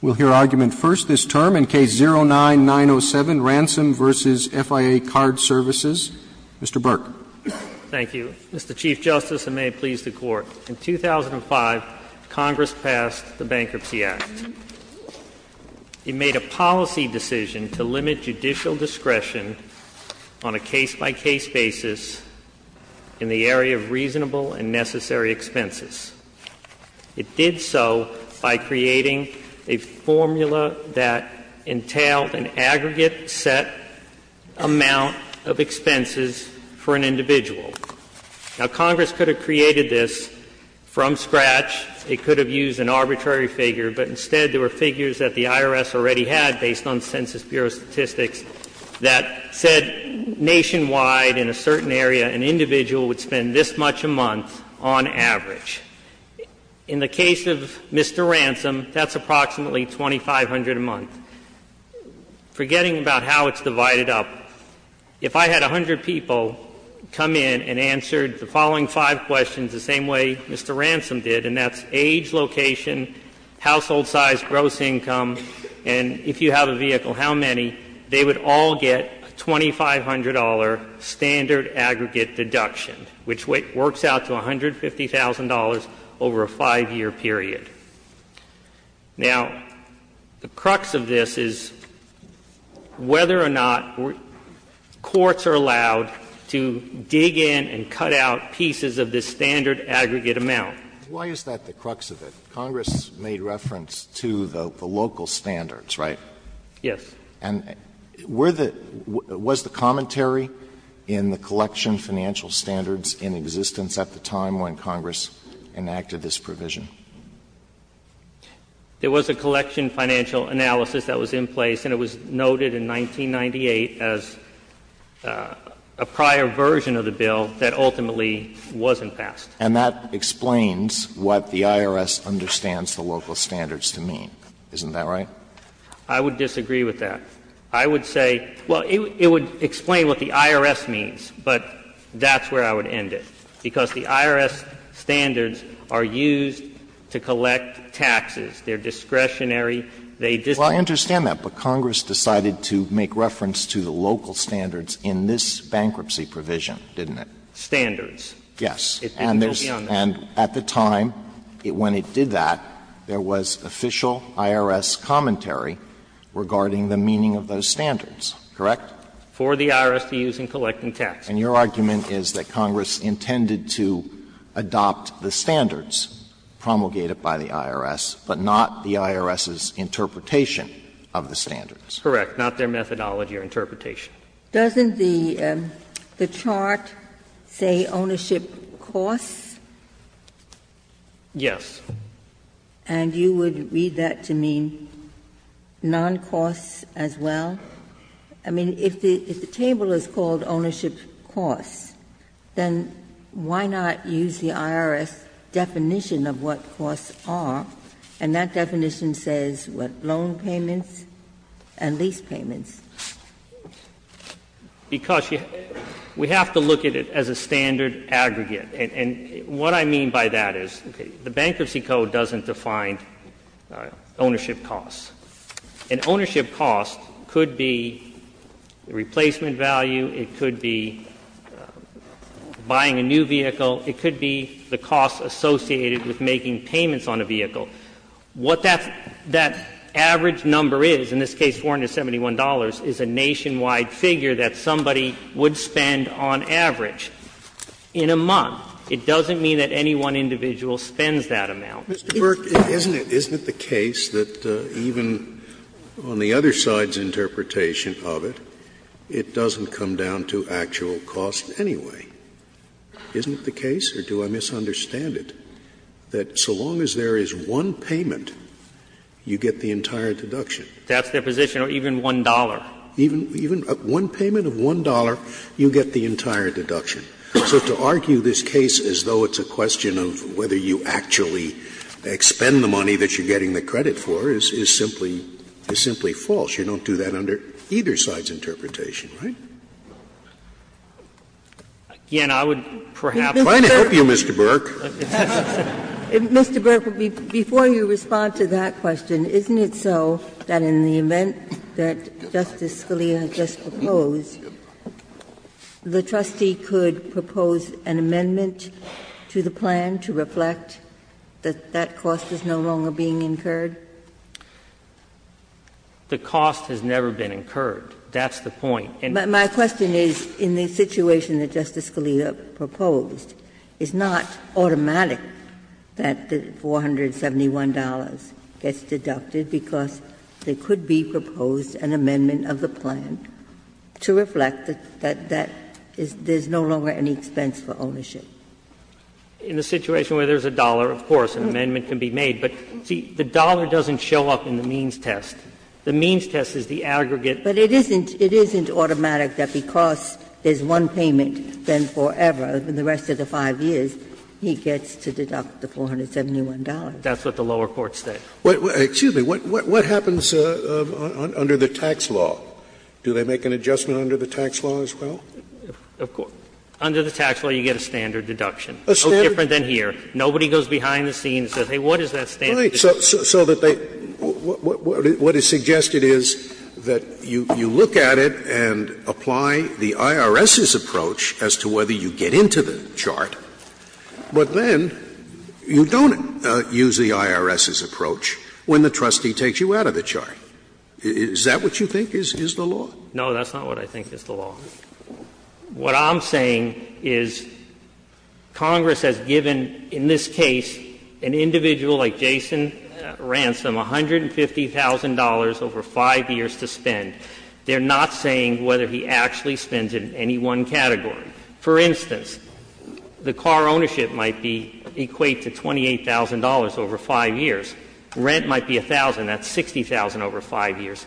We'll hear argument first this term in Case 09-907, Ransom v. FIA Card Services. Mr. Burke. Thank you, Mr. Chief Justice, and may it please the Court. In 2005, Congress passed the Bankruptcy Act. It made a policy decision to limit judicial discretion on a case-by-case basis in the area of reasonable and necessary expenses. It did so by creating a formula that entailed an aggregate set amount of expenses for an individual. Now, Congress could have created this from scratch. It could have used an arbitrary figure, but instead there were figures that the IRS already had based on Census Bureau statistics that said nationwide in a certain area an individual would spend this much a month on average. In the case of Mr. Ransom, that's approximately $2,500 a month. Forgetting about how it's divided up, if I had 100 people come in and answered the following five questions the same way Mr. Ransom did, and that's age, location, household size, gross income, and if you have a vehicle, how many, they would all get a $2,500 standard aggregate deduction, which works out to $150,000 over a 5-year period. Now, the crux of this is whether or not courts are allowed to dig in and cut out pieces of this standard aggregate amount. Alito, why is that the crux of it? Congress made reference to the local standards, right? Yes. And were the — was the commentary in the collection financial standards in existence at the time when Congress enacted this provision? There was a collection financial analysis that was in place, and it was noted in 1998 as a prior version of the bill that ultimately wasn't passed. And that explains what the IRS understands the local standards to mean, isn't that right? I would disagree with that. I would say — well, it would explain what the IRS means, but that's where I would end it, because the IRS standards are used to collect taxes. They're discretionary. They just don't work. Well, I understand that, but Congress decided to make reference to the local standards in this bankruptcy provision, didn't it? Standards. Yes. And at the time when it did that, there was official IRS commentary regarding the meaning of those standards, correct? For the IRS to use in collecting taxes. And your argument is that Congress intended to adopt the standards promulgated by the IRS, but not the IRS's interpretation of the standards. Correct. Not their methodology or interpretation. Doesn't the chart say ownership costs? Yes. And you would read that to mean non-costs as well? I mean, if the table is called ownership costs, then why not use the IRS definition of what costs are, and that definition says what loan payments and lease payments. Because we have to look at it as a standard aggregate. And what I mean by that is the bankruptcy code doesn't define ownership costs. An ownership cost could be the replacement value. It could be buying a new vehicle. It could be the costs associated with making payments on a vehicle. What that average number is, in this case $471, is a nationwide figure that somebody would spend on average in a month. It doesn't mean that any one individual spends that amount. Scalia. Isn't it the case that even on the other side's interpretation of it, it doesn't come down to actual costs anyway? Isn't it the case, or do I misunderstand it, that so long as there is one individual paying $471, you get the entire deduction? That's their position, or even $1. Even one payment of $1, you get the entire deduction. So to argue this case as though it's a question of whether you actually expend the money that you're getting the credit for is simply false. You don't do that under either side's interpretation, right? Again, I would perhaps say, Mr. Burke. I'm trying to help you, Mr. Burke. Mr. Burke, before you respond to that question, isn't it so that in the event that Justice Scalia just proposed, the trustee could propose an amendment to the plan to reflect that that cost is no longer being incurred? The cost has never been incurred. That's the point. My question is, in the situation that Justice Scalia proposed, it's not automatic that the $471 gets deducted because there could be proposed an amendment of the plan to reflect that that is no longer any expense for ownership. In the situation where there is a dollar, of course, an amendment can be made. But, see, the dollar doesn't show up in the means test. The means test is the aggregate. But it isn't automatic that because there is one payment, then forever, in the rest of the 5 years, he gets to deduct the $471. That's what the lower court said. Excuse me. What happens under the tax law? Do they make an adjustment under the tax law as well? Under the tax law, you get a standard deduction, different than here. Scalia, so that they – what is suggested is that you look at it and apply the IRS's approach as to whether you get into the chart, but then you don't use the IRS's approach when the trustee takes you out of the chart. Is that what you think is the law? No, that's not what I think is the law. What I'm saying is Congress has given, in this case, an individual like Jason Ransom $150,000 over 5 years to spend. They are not saying whether he actually spends it in any one category. For instance, the car ownership might be equate to $28,000 over 5 years. Rent might be $1,000. That's $60,000 over 5 years.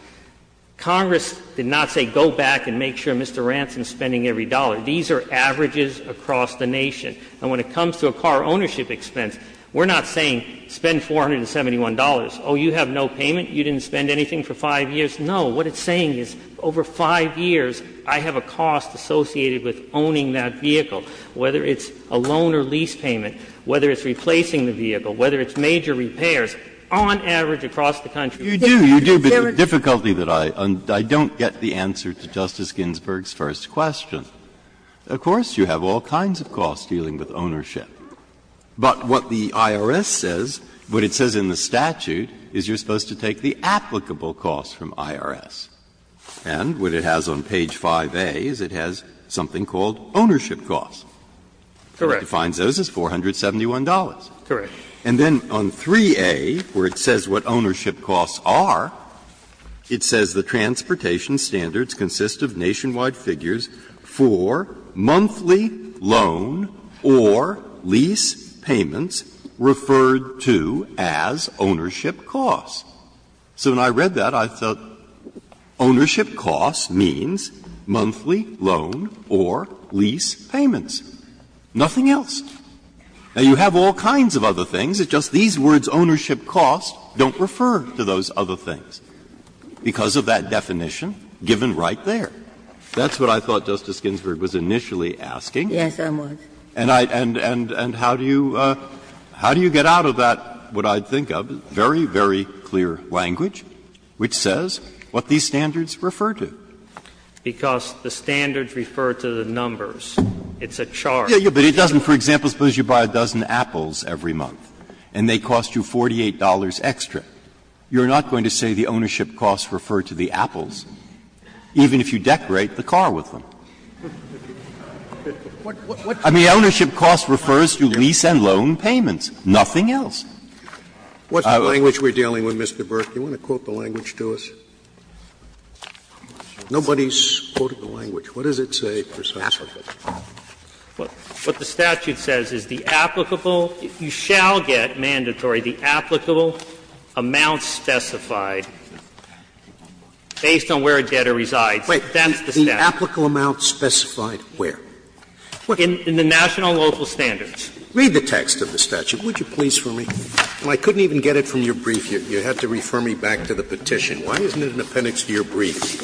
Congress did not say go back and make sure Mr. Ransom is spending every dollar. These are averages across the nation. And when it comes to a car ownership expense, we're not saying spend $471. Oh, you have no payment? You didn't spend anything for 5 years? No. What it's saying is over 5 years, I have a cost associated with owning that vehicle, whether it's a loan or lease payment, whether it's replacing the vehicle, whether it's major repairs, on average across the country. Breyer, you do, you do, but the difficulty that I don't get the answer to Justice Ginsburg's first question. Of course, you have all kinds of costs dealing with ownership, but what the IRS says, what it says in the statute, is you're supposed to take the applicable costs from IRS. And what it has on page 5A is it has something called ownership costs. Correct. It defines those as $471. Correct. And then on 3A, where it says what ownership costs are, it says the transportation standards consist of nationwide figures for monthly loan or lease payments referred to as ownership costs. So when I read that, I thought ownership costs means monthly loan or lease payments. Nothing else. Now, you have all kinds of other things, it's just these words, ownership costs, don't refer to those other things because of that definition given right there. That's what I thought Justice Ginsburg was initially asking. Yes, I was. And how do you get out of that, what I think of, very, very clear language, which says what these standards refer to. Because the standards refer to the numbers. It's a chart. But it doesn't, for example, suppose you buy a dozen apples every month and they cost you $48 extra. You're not going to say the ownership costs refer to the apples, even if you decorate the car with them. I mean, ownership costs refers to lease and loan payments, nothing else. Scalia, what's the language we're dealing with, Mr. Burke? Do you want to quote the language to us? Nobody's quoted the language. What does it say? What the statute says is the applicable you shall get, mandatory, the applicable amount specified based on where a debtor resides, that's the statute. The applicable amount specified where? In the national and local standards. Read the text of the statute, would you please, for me? I couldn't even get it from your brief. You had to refer me back to the petition. Why isn't it in the appendix to your brief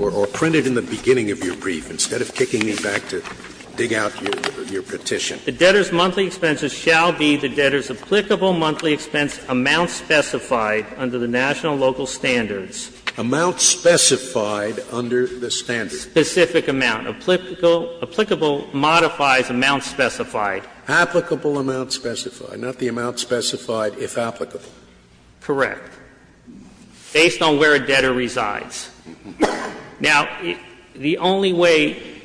or printed in the beginning of your brief instead of kicking me back to dig out your petition? The debtor's monthly expenses shall be the debtor's applicable monthly expense amount specified under the national and local standards. Amount specified under the standards. Specific amount. Applicable modifies amount specified. Applicable amount specified, not the amount specified if applicable. Correct. Based on where a debtor resides. Now, the only way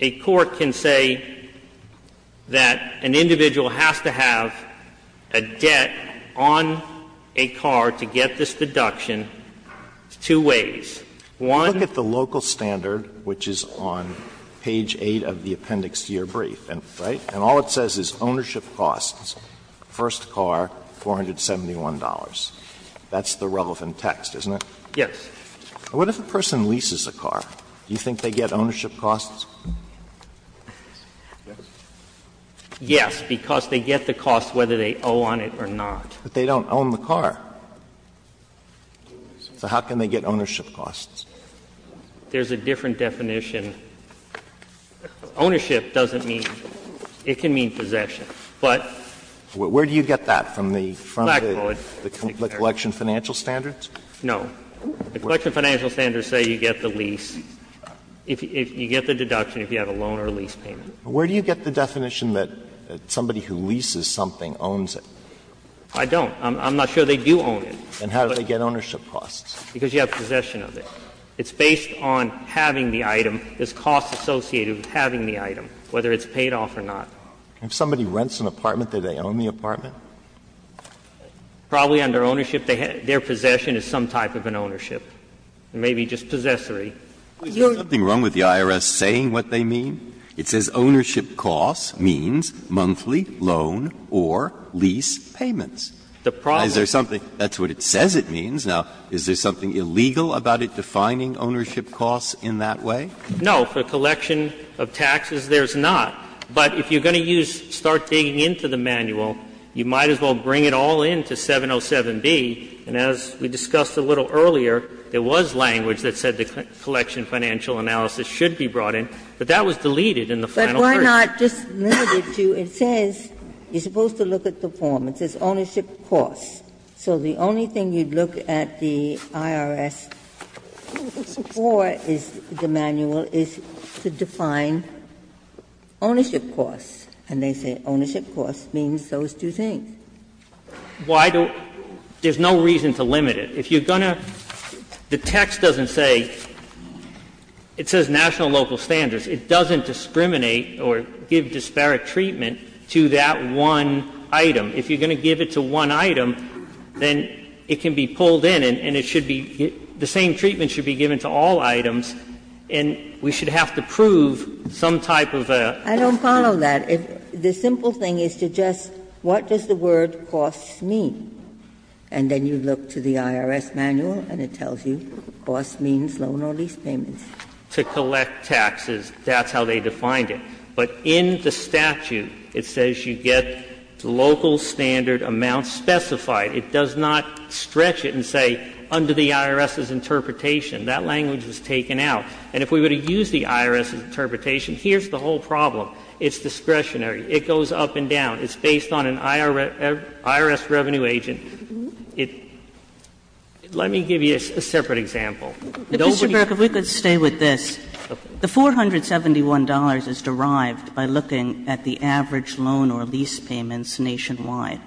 a court can say that an individual has to have a debt on a car to get this deduction is two ways. One. Alito Look at the local standard, which is on page 8 of the appendix to your brief, right? And all it says is ownership costs, first car, $471. That's the relevant text, isn't it? Yes. What if a person leases a car? Do you think they get ownership costs? Yes, because they get the cost whether they owe on it or not. But they don't own the car. So how can they get ownership costs? There's a different definition. Ownership doesn't mean — it can mean possession, but. Where do you get that from the collection financial standards? No. The collection financial standards say you get the lease, you get the deduction if you have a loan or a lease payment. Where do you get the definition that somebody who leases something owns it? I don't. I'm not sure they do own it. Then how do they get ownership costs? Because you have possession of it. It's based on having the item, this cost associated with having the item, whether it's paid off or not. If somebody rents an apartment, do they own the apartment? Probably under ownership, their possession is some type of an ownership. It may be just possessory. You're going to get ownership costs if you have a loan or a lease payment. Breyer, is there something wrong with the IRS saying what they mean? It says ownership costs means monthly loan or lease payments. The problem is there's something — that's what it says it means. Now, is there something illegal about it defining ownership costs in that way? No. For a collection of taxes, there's not. But if you're going to use — start digging into the manual, you might as well bring it all in to 707B, and as we discussed a little earlier, there was language that said the collection financial analysis should be brought in, but that was deleted in the final version. But we're not just limited to — it says you're supposed to look at the form. It says ownership costs. So the only thing you'd look at the IRS for is the manual is to define ownership costs, and they say ownership costs means those two things. Why do — there's no reason to limit it. If you're going to — the text doesn't say — it says national and local standards. It doesn't discriminate or give disparate treatment to that one item. If you're going to give it to one item, then it can be pulled in and it should be — the same treatment should be given to all items, and we should have to prove some type of a— Ginsburg. I don't follow that. The simple thing is to just — what does the word costs mean? And then you look to the IRS manual and it tells you costs means loan or lease payments. To collect taxes, that's how they defined it. But in the statute, it says you get local standard amounts specified. It does not stretch it and say under the IRS's interpretation. That language was taken out. And if we were to use the IRS's interpretation, here's the whole problem. It's discretionary. It goes up and down. It's based on an IRS revenue agent. It — let me give you a separate example. Nobody— I would say with this, the $471 is derived by looking at the average loan or lease payments nationwide.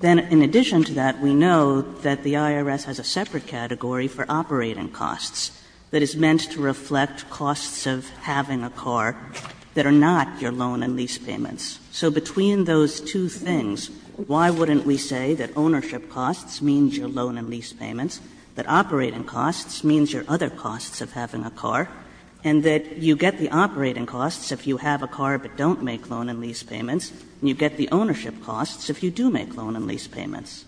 Then in addition to that, we know that the IRS has a separate category for operating costs that is meant to reflect costs of having a car that are not your loan and lease payments. So between those two things, why wouldn't we say that ownership costs means your loan and lease payments, that operating costs means your other costs of having a car, and that you get the operating costs if you have a car but don't make loan and lease payments, and you get the ownership costs if you do make loan and lease payments?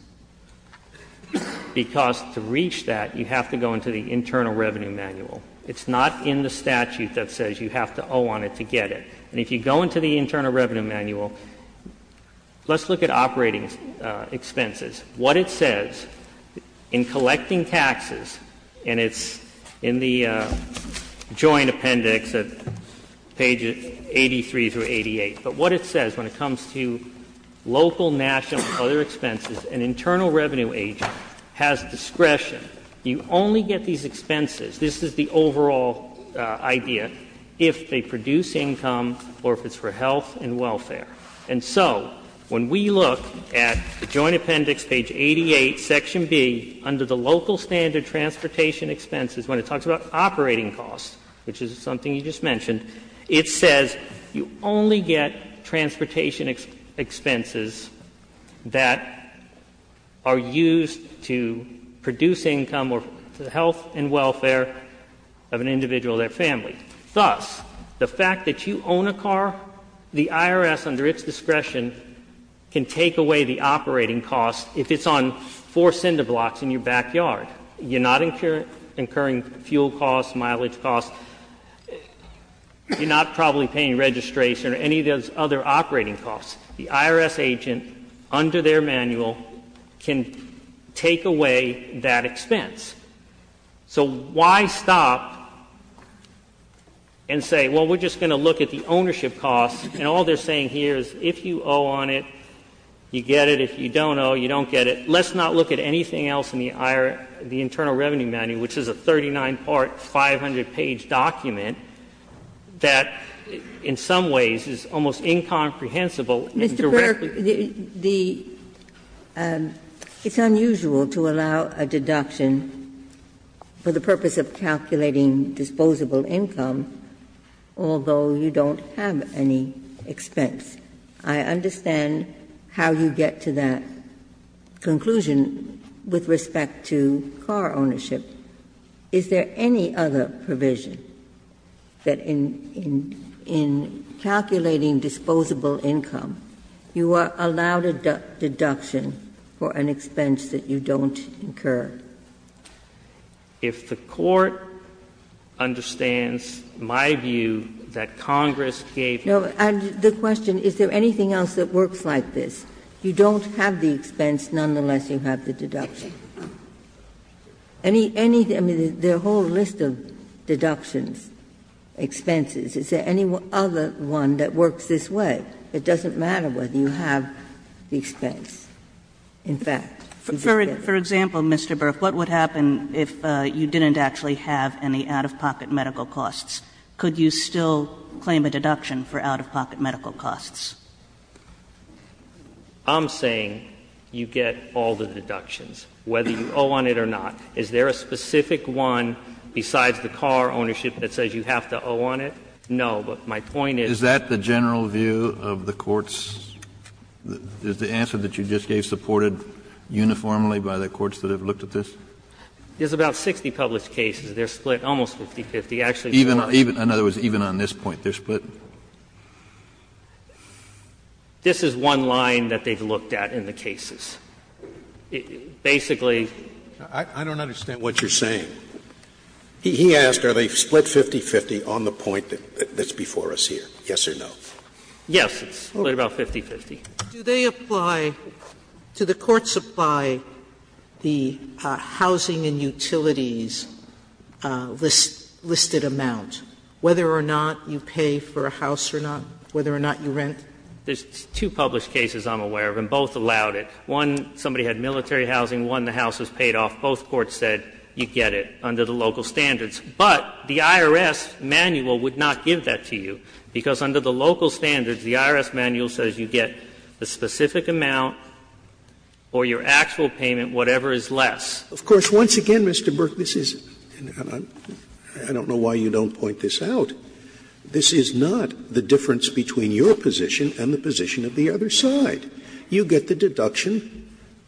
Because to reach that, you have to go into the Internal Revenue Manual. It's not in the statute that says you have to owe on it to get it. And if you go into the Internal Revenue Manual, let's look at operating expenses. What it says in collecting taxes, and it's in the Joint Appendix at pages 83 through 88, but what it says when it comes to local, national, and other expenses, an internal revenue agent has discretion. You only get these expenses — this is the overall idea — if they produce income or if it's for health and welfare. And so when we look at the Joint Appendix, page 88, section B, under the local standard transportation expenses, when it talks about operating costs, which is something you just mentioned, it says you only get transportation expenses that are used to produce income or health and welfare of an individual or their family. And thus, the fact that you own a car, the IRS, under its discretion, can take away the operating costs if it's on four cinder blocks in your backyard. You're not incurring fuel costs, mileage costs. You're not probably paying registration or any of those other operating costs. The IRS agent, under their manual, can take away that expense. So why stop and say, well, we're just going to look at the ownership costs, and all they're saying here is if you owe on it, you get it. If you don't owe, you don't get it. Let's not look at anything else in the IRS, the internal revenue manual, which is a 39-part, 500-page document that in some ways is almost incomprehensible and directly. Ginsburg, the — it's unusual to allow a deduction for the purpose of calculating disposable income, although you don't have any expense. I understand how you get to that conclusion with respect to car ownership. Is there any other provision that in calculating disposable income, you are not incurring or allowed a deduction for an expense that you don't incur? If the Court understands my view that Congress gave you a deduction. No, and the question, is there anything else that works like this? You don't have the expense, nonetheless you have the deduction. Any — I mean, there are a whole list of deductions, expenses. Is there any other one that works this way? It doesn't matter whether you have the expense. In fact, you just get it. For example, Mr. Berk, what would happen if you didn't actually have any out-of-pocket medical costs? Could you still claim a deduction for out-of-pocket medical costs? I'm saying you get all the deductions, whether you owe on it or not. Is there a specific one besides the car ownership that says you have to owe on it? Kennedy, is there a split of the court's — is the answer that you just gave supported uniformly by the courts that have looked at this? There's about 60 published cases. They're split almost 50-50. Actually, it's more than that. In other words, even on this point, they're split? This is one line that they've looked at in the cases. It basically… I don't understand what you're saying. He asked are they split 50-50 on the point that's before us here, yes or no? Yes, it's split about 50-50. Do they apply — do the courts apply the housing and utilities listed amount, whether or not you pay for a house or not, whether or not you rent? There's two published cases I'm aware of, and both allowed it. One, somebody had military housing. One, the house was paid off. Both courts said you get it under the local standards. But the IRS manual would not give that to you, because under the local standards, the IRS manual says you get the specific amount or your actual payment, whatever is less. Of course, once again, Mr. Burke, this is — I don't know why you don't point this out. This is not the difference between your position and the position of the other side. You get the deduction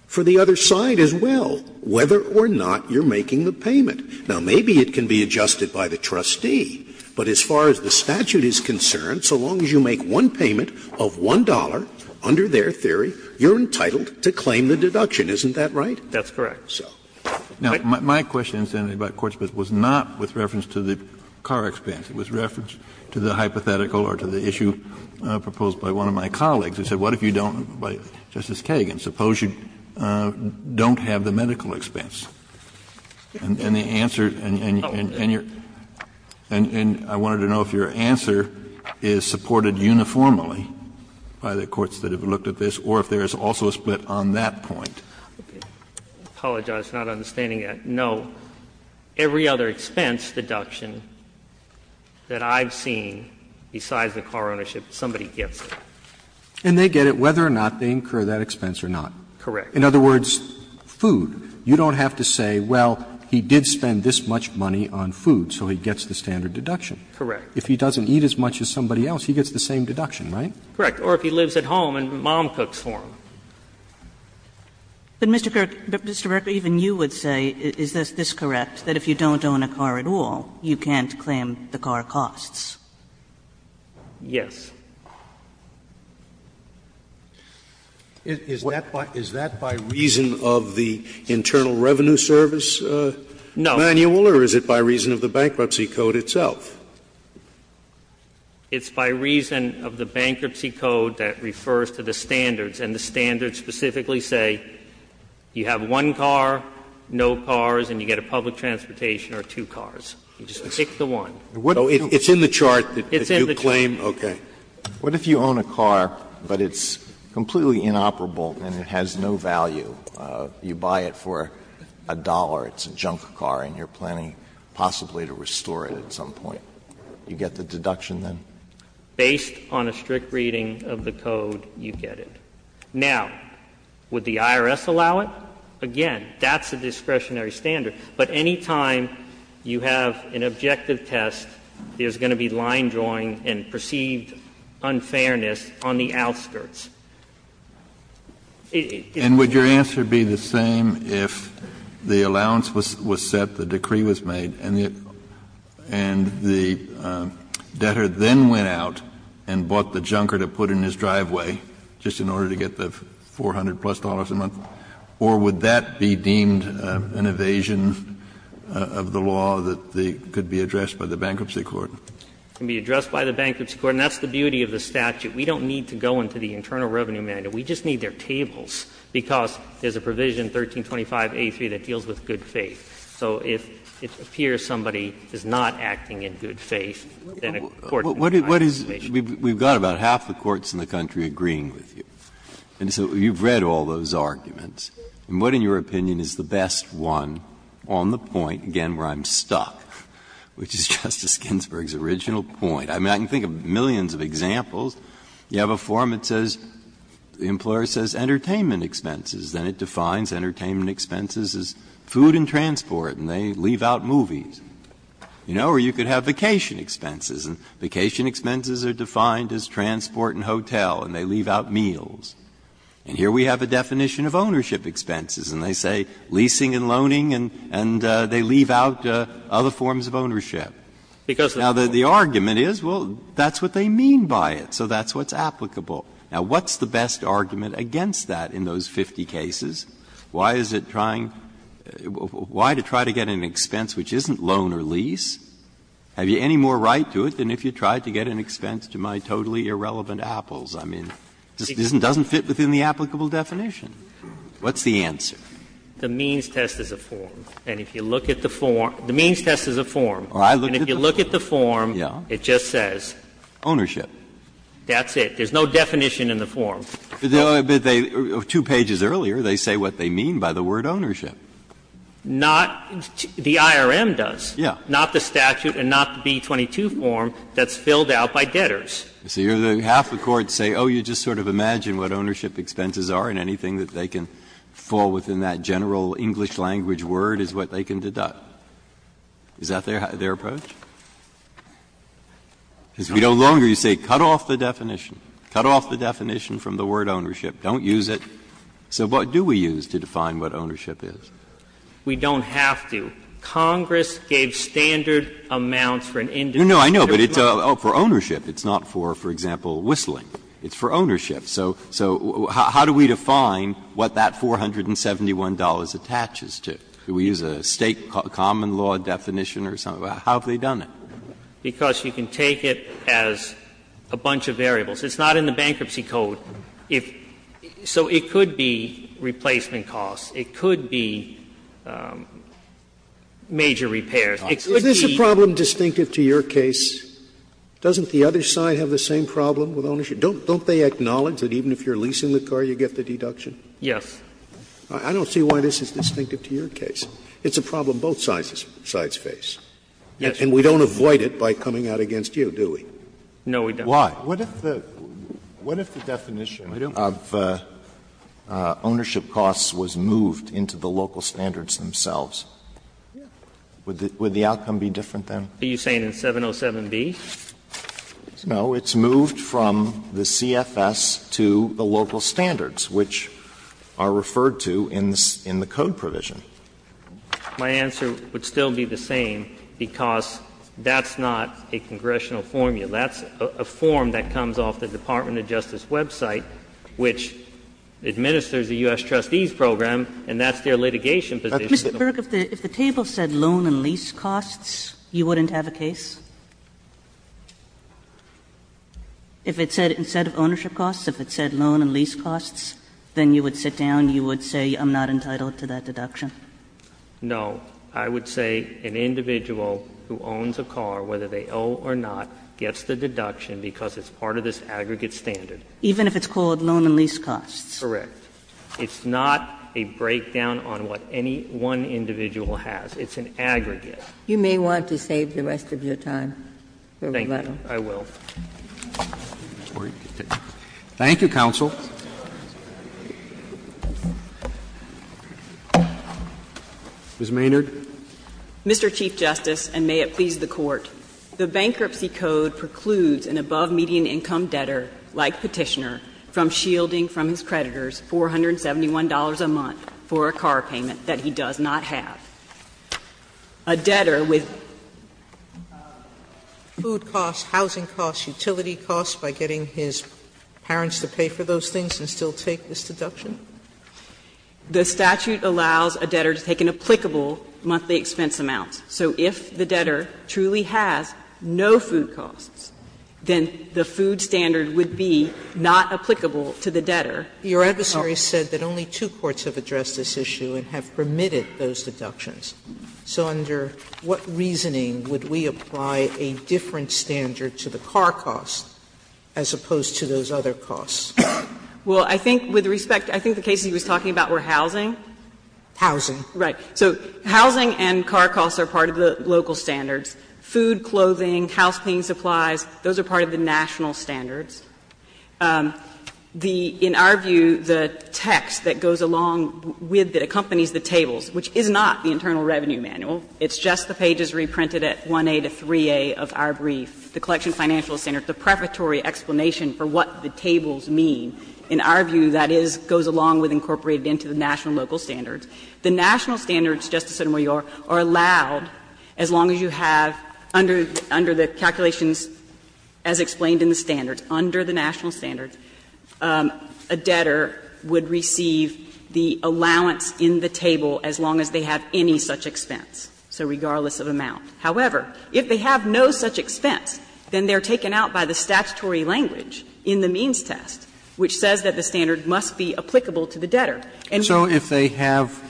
for the other side as well, whether or not you're making the payment. Now, maybe it can be adjusted by the trustee, but as far as the statute is concerned, so long as you make one payment of $1 under their theory, you're entitled to claim the deduction. Isn't that right? That's correct. Kennedy. Now, my question, Mr. Kennedy, about courts was not with reference to the car expense. It was reference to the hypothetical or to the issue proposed by one of my colleagues. He said, what if you don't — Justice Kagan, suppose you don't have the medical expense, and the answer — and your — and I wanted to know if your answer is supported uniformly by the courts that have looked at this, or if there is also a split on that point. I apologize, I'm not understanding that. No, every other expense deduction that I've seen besides the car ownership, somebody gets it. And they get it whether or not they incur that expense or not. Correct. In other words, food. You don't have to say, well, he did spend this much money on food, so he gets the standard deduction. Correct. If he doesn't eat as much as somebody else, he gets the same deduction, right? Correct. Or if he lives at home and mom cooks for him. But, Mr. Kirk, Mr. Berger, even you would say, is this correct, that if you don't own a car at all, you can't claim the car costs? Yes. Is that by reason of the Internal Revenue Service manual, or is it by reason of the Bankruptcy Code itself? It's by reason of the Bankruptcy Code that refers to the standards, and the standards specifically say you have one car, no cars, and you get a public transportation or two cars. You just pick the one. So it's in the chart that you claim? Okay. What if you own a car, but it's completely inoperable and it has no value? You buy it for a dollar, it's a junk car, and you're planning possibly to restore it at some point. You get the deduction then? Based on a strict reading of the code, you get it. Now, would the IRS allow it? Again, that's a discretionary standard. But any time you have an objective test, there's going to be line drawing and proceeding and perceived unfairness on the outskirts. And would your answer be the same if the allowance was set, the decree was made, and the debtor then went out and bought the junker to put in his driveway just in order to get the $400-plus a month, or would that be deemed an evasion of the law that could be addressed by the Bankruptcy Court? It can be addressed by the Bankruptcy Court, and that's the beauty of the statute. We don't need to go into the Internal Revenue Manual. We just need their tables, because there's a provision, 1325a3, that deals with good faith. So if it appears somebody is not acting in good faith, then a court can find evasion. We've got about half the courts in the country agreeing with you. And so you've read all those arguments. And what, in your opinion, is the best one on the point, again, where I'm stuck, which is Justice Ginsburg's original point? I mean, I can think of millions of examples. You have a form that says, the employer says entertainment expenses, then it defines entertainment expenses as food and transport, and they leave out movies. You know, or you could have vacation expenses, and vacation expenses are defined as transport and hotel, and they leave out meals. And here we have a definition of ownership expenses, and they say leasing and loaning, and they leave out other forms of ownership. Now, the argument is, well, that's what they mean by it, so that's what's applicable. Now, what's the best argument against that in those 50 cases? Why is it trying to get an expense which isn't loan or lease? Have you any more right to it than if you tried to get an expense to my totally irrelevant apples? I mean, it doesn't fit within the applicable definition. What's the answer? The means test is a form. And if you look at the form, the means test is a form. And if you look at the form, it just says. Ownership. That's it. There's no definition in the form. But they two pages earlier, they say what they mean by the word ownership. Not the IRM does. Yeah. Not the statute and not the B-22 form that's filled out by debtors. So you're half the Court say, oh, you just sort of imagine what ownership expenses are and anything that they can fall within that general English language word is what they can deduct. Is that their approach? Because we no longer say cut off the definition. Cut off the definition from the word ownership. Don't use it. So what do we use to define what ownership is? We don't have to. Congress gave standard amounts for an industry. No, I know, but it's for ownership. It's not for, for example, whistling. It's for ownership. So how do we define what that $471 attaches to? Do we use a State common law definition or something? How have they done it? Because you can take it as a bunch of variables. It's not in the bankruptcy code. So it could be replacement costs. It could be major repairs. It could be. Is this a problem distinctive to your case? Doesn't the other side have the same problem with ownership? Don't they acknowledge that even if you're leasing the car, you get the deduction? Yes. I don't see why this is distinctive to your case. It's a problem both sides face. Yes. And we don't avoid it by coming out against you, do we? No, we don't. Why? What if the definition of ownership costs was moved into the local standards themselves? Would the outcome be different then? Are you saying in 707b? No, it's moved from the CFS to the local standards, which are referred to in the code provision. My answer would still be the same because that's not a congressional formula. That's a form that comes off the Department of Justice website, which administers the U.S. trustees program, and that's their litigation position. Mr. Burke, if the table said loan and lease costs, you wouldn't have a case? If it said, instead of ownership costs, if it said loan and lease costs, then you would sit down, you would say I'm not entitled to that deduction? No. I would say an individual who owns a car, whether they owe or not, gets the deduction because it's part of this aggregate standard. Even if it's called loan and lease costs? Correct. It's not a breakdown on what any one individual has. It's an aggregate. You may want to save the rest of your time, Mr. Little. Thank you. I will. Thank you, counsel. Ms. Maynard. Mr. Chief Justice, and may it please the Court, the Bankruptcy Code precludes an above-median income debtor, like Petitioner, from shielding from his creditors $471 a month for a car payment that he does not have. A debtor with food costs, housing costs, utility costs, by getting his parents to pay for those things and still take this deduction? The statute allows a debtor to take an applicable monthly expense amount. So if the debtor truly has no food costs, then the food standard would be not applicable to the debtor. Your adversary said that only two courts have addressed this issue and have permitted those deductions. So under what reasoning would we apply a different standard to the car costs as opposed to those other costs? Well, I think with respect, I think the cases he was talking about were housing. Housing. Right. So housing and car costs are part of the local standards. Food, clothing, house cleaning supplies, those are part of the national standards. The – in our view, the text that goes along with, that accompanies the tables, which is not the Internal Revenue Manual, it's just the pages reprinted at 1a to 3a of our brief, the collection financial standard, the preparatory explanation for what the tables mean, in our view that is – goes along with incorporated into the national local standards. The national standards, Justice Sotomayor, are allowed as long as you have, under the calculations as explained in the standards, under the national standards, a debtor would receive the allowance in the table as long as they have any such expense. So regardless of amount. However, if they have no such expense, then they are taken out by the statutory language in the means test, which says that the standard must be applicable to the debtor. And so if they have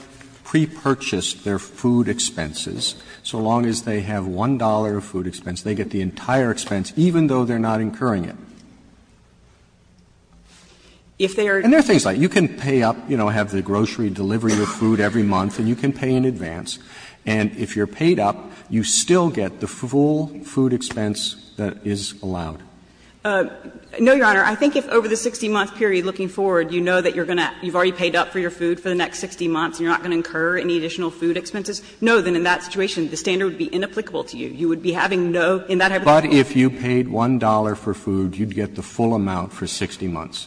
pre-purchased their food expenses, so long as they have $1 of food expense, they get the entire expense, even though they are not incurring it. And there are things like, you can pay up, you know, have the grocery delivery of food every month and you can pay in advance, and if you are paid up, you still get the full food expense that is allowed. No, Your Honor. I think if over the 60-month period looking forward you know that you are going to – you have already paid up for your food for the next 60 months and you are not going to incur any additional food expenses, no, then in that situation the standard would be inapplicable to you. You would be having no, in that hypothetical case. Roberts What if you paid $1 for food, you would get the full amount for 60 months?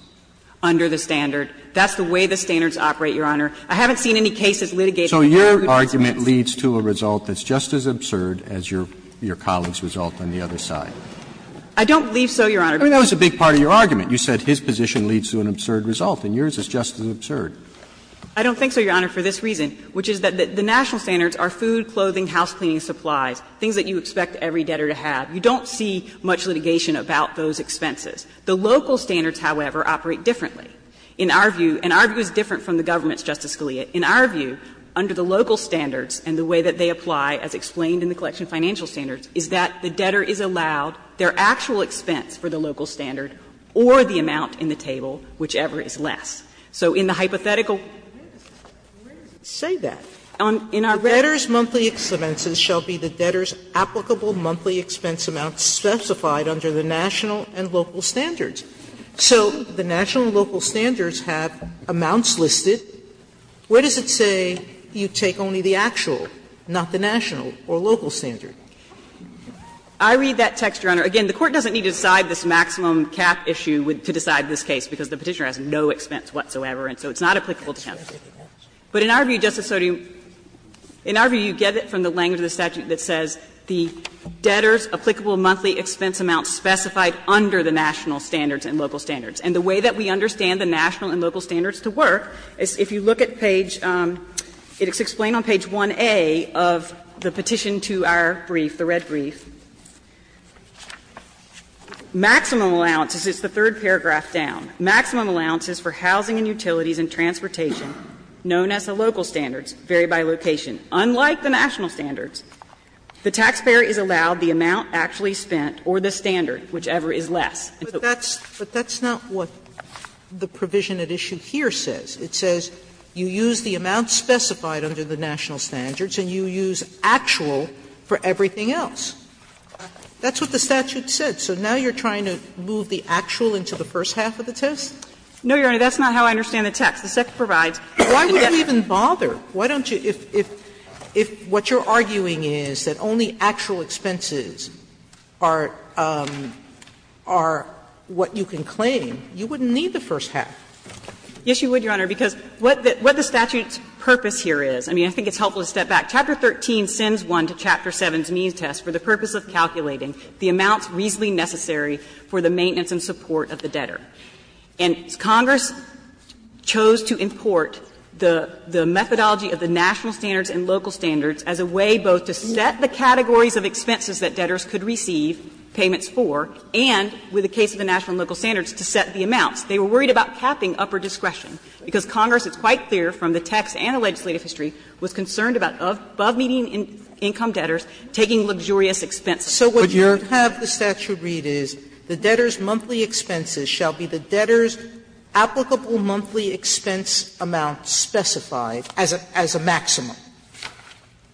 Under the standard. That's the way the standards operate, Your Honor. I haven't seen any cases litigating the fact that the food expense. So your argument leads to a result that's just as absurd as your colleague's result on the other side. I don't believe so, Your Honor. I mean, that was a big part of your argument. You said his position leads to an absurd result and yours is just as absurd. I don't think so, Your Honor, for this reason, which is that the national standards are food, clothing, house cleaning supplies, things that you expect every debtor to have. You don't see much litigation about those expenses. The local standards, however, operate differently. In our view, and our view is different from the government's, Justice Scalia. In our view, under the local standards and the way that they apply as explained in the collection financial standards, is that the debtor is allowed their actual expense for the local standard or the amount in the table, whichever is less. So in the hypothetical. Sotomayor Where does it say that? The debtor's monthly expenses shall be the debtor's applicable monthly expenses or the debtor's amounts specified under the national and local standards. So the national and local standards have amounts listed. Where does it say you take only the actual, not the national or local standard? I read that text, Your Honor. Again, the Court doesn't need to decide this maximum cap issue to decide this case because the Petitioner has no expense whatsoever, and so it's not applicable to him. But in our view, Justice Sotomayor, in our view, you get it from the language of the statute that says the debtor's applicable monthly expense amounts specified under the national standards and local standards. And the way that we understand the national and local standards to work is, if you look at page, it's explained on page 1A of the petition to our brief, the red brief, maximum allowances, it's the third paragraph down, maximum allowances for housing and utilities and transportation known as the local standards vary by location. Unlike the national standards, the taxpayer is allowed the amount actually spent or the standard, whichever is less. Sotomayor, but that's not what the provision at issue here says. It says you use the amount specified under the national standards and you use actual for everything else. That's what the statute said. So now you're trying to move the actual into the first half of the test? No, Your Honor, that's not how I understand the text. The text provides the debtor. Why would it even bother? Why don't you, if what you're arguing is that only actual expenses are what you can claim, you wouldn't need the first half? Yes, you would, Your Honor, because what the statute's purpose here is, I mean, I think it's helpful to step back. Chapter 13 sends one to Chapter 7's means test for the purpose of calculating the amounts reasonably necessary for the maintenance and support of the debtor. And Congress chose to import the methodology of the national standards and local standards as a way both to set the categories of expenses that debtors could receive payments for and, with the case of the national and local standards, to set the amounts. They were worried about capping upper discretion, because Congress, it's quite clear from the text and the legislative history, was concerned about above median income debtors taking luxurious expenses. So what you're saying is that the statute is that the debtor's monthly expenses shall be the debtor's applicable monthly expense amount specified as a maximum.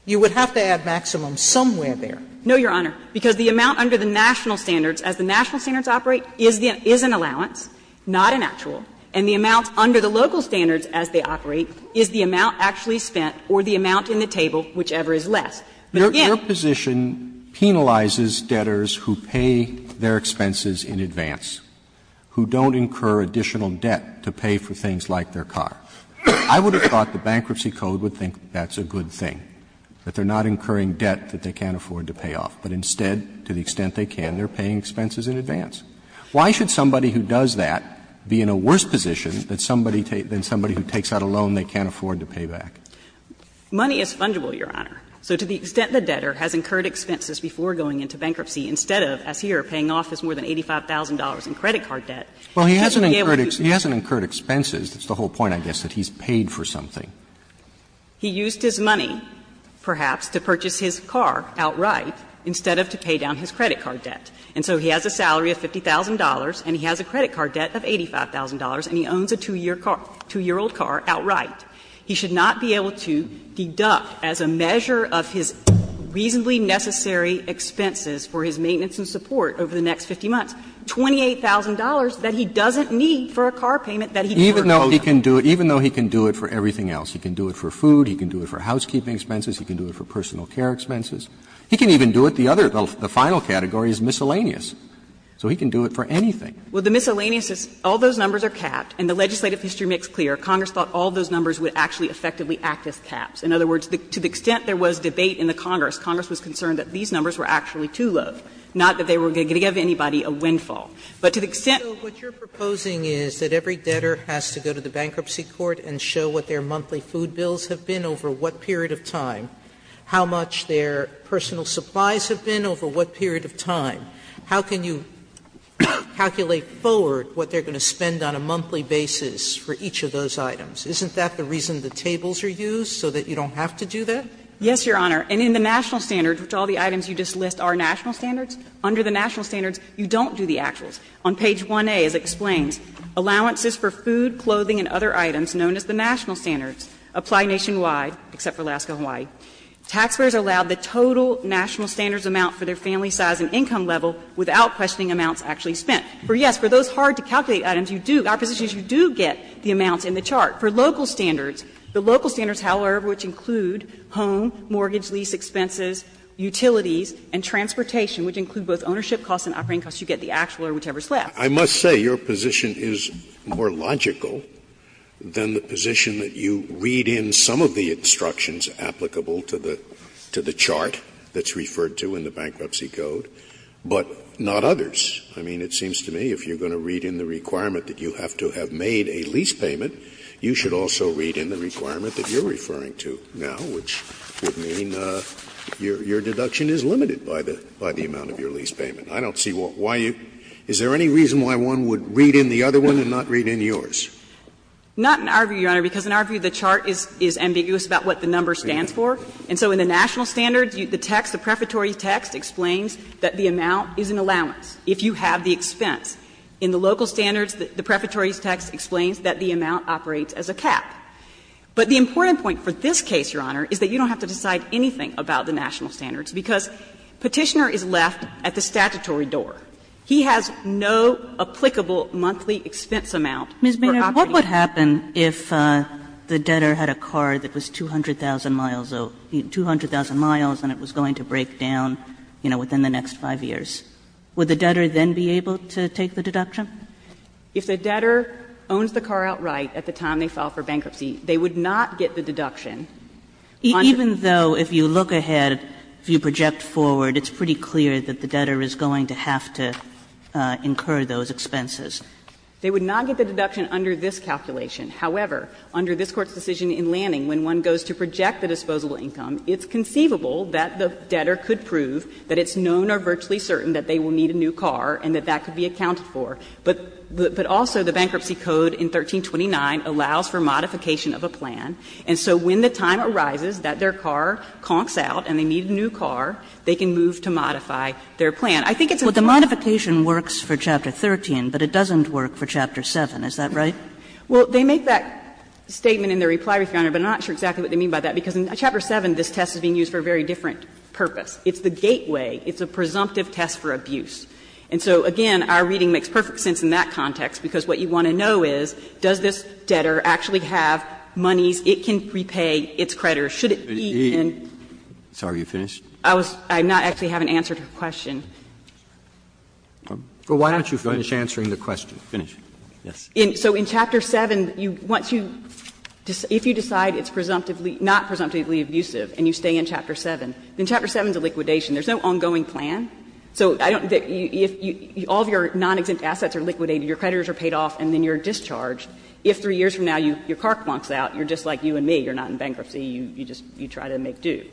You would have to add maximum somewhere there. No, Your Honor, because the amount under the national standards, as the national standards operate, is an allowance, not an actual, and the amount under the local standards as they operate is the amount actually spent or the amount in the table, whichever is less. But again, your position penalizes debtors who pay their expenses in advance. So you're saying that the bankruptcy code would think that's a good thing, that they're not incurring debt that they can't afford to pay off, but instead, to the extent they can, they're paying expenses in advance. Why should somebody who does that be in a worse position than somebody who takes out a loan they can't afford to pay back? Money is fungible, Your Honor. So to the extent the debtor has incurred expenses before going into bankruptcy, instead of, as here, paying off his more than $85,000 in debt, he's paying off his more than $85,000 in credit card debt, he should be able to use it. Roberts, Well, he hasn't incurred expenses. That's the whole point, I guess, that he's paid for something. He used his money, perhaps, to purchase his car outright instead of to pay down his credit card debt. And so he has a salary of $50,000 and he has a credit card debt of $85,000 and he owns a two-year car, two-year-old car outright. He should not be able to deduct as a measure of his reasonably necessary expenses for his maintenance and support over the next 50 months, $28,000 that he doesn't need for a car payment that he can't afford. Roberts, Even though he can do it for everything else, he can do it for food, he can do it for housekeeping expenses, he can do it for personal care expenses. He can even do it, the other, the final category is miscellaneous, so he can do it for anything. Well, the miscellaneous is all those numbers are capped and the legislative history makes clear Congress thought all those numbers would actually effectively act as caps. In other words, to the extent there was debate in the Congress, Congress was concerned that these numbers were actually too low, not that they were going to give anybody a windfall. But to the extent that you're proposing is that every debtor has to go to the bankruptcy court and show what their monthly food bills have been over what period of time, how much their personal supplies have been over what period of time, how can you calculate forward what they're going to spend on a monthly basis for each of those items? Isn't that the reason the tables are used, so that you don't have to do that? Yes, Your Honor. And in the national standards, which all the items you just list are national standards, under the national standards you don't do the actuals. On page 1a, as it explains, allowances for food, clothing and other items known as the national standards apply nationwide, except for Alaska and Hawaii. Taxpayers are allowed the total national standards amount for their family size and income level without questioning amounts actually spent. For, yes, for those hard-to-calculate items, you do, our position is you do get the amounts in the chart. For local standards, the local standards, however, which include home, mortgage, lease expenses, utilities, and transportation, which include both ownership costs and operating costs, you get the actual or whichever is left. I must say, your position is more logical than the position that you read in some of the instructions applicable to the chart that's referred to in the Bankruptcy Code, but not others. I mean, it seems to me if you're going to read in the requirement that you have to have made a lease payment, you should also read in the requirement that you're referring to now, which would mean your deduction is limited by the amount of your lease payment. I don't see why you – is there any reason why one would read in the other one and not read in yours? Not in our view, Your Honor, because in our view the chart is ambiguous about what the number stands for. And so in the national standards, the text, the prefatory text explains that the amount is an allowance if you have the expense. In the local standards, the prefatory text explains that the amount operates as a cap. But the important point for this case, Your Honor, is that you don't have to decide anything about the national standards, because Petitioner is left at the statutory door. He has no applicable monthly expense amount for operating. Kagan in what would happen if the debtor had a car that was 200,000 miles, 200,000 miles, and it was going to break down, you know, within the next 5 years? Would the debtor then be able to take the deduction? If the debtor owns the car outright at the time they file for bankruptcy, they would not get the deduction. Even though if you look ahead, if you project forward, it's pretty clear that the debtor is going to have to incur those expenses. They would not get the deduction under this calculation. However, under this Court's decision in Lanning, when one goes to project the disposable income, it's conceivable that the debtor could prove that it's known or virtually certain that they will need a new car and that that could be accounted for. But also, the Bankruptcy Code in 1329 allows for modification of a plan. And so when the time arises that their car conks out and they need a new car, they can move to modify their plan. miles, and it was going to break down, you know, within the next 5 years? Well, the modification works for Chapter 13, but it doesn't work for Chapter 7. Is that right? Well, they make that statement in their reply, Your Honor, but I'm not sure exactly what they mean by that, because in Chapter 7 this test is being used for a very different purpose. It's the gateway. It's a presumptive test for abuse. And so, again, our reading makes perfect sense in that context, because what you want to know is, does this debtor actually have monies it can repay, its credit, or should it be in? Sotomayor, I'm sorry, are you finished? I was not actually having answered her question. Well, why don't you finish answering the question? Finish. So in Chapter 7, once you, if you decide it's presumptively, not presumptively abusive and you stay in Chapter 7, then Chapter 7 is a liquidation. There's no ongoing plan. So I don't think you, if all of your non-exempt assets are liquidated, your creditors are paid off and then you're discharged, if 3 years from now your car clunks out, you're just like you and me. You're not in bankruptcy. You just, you try to make do.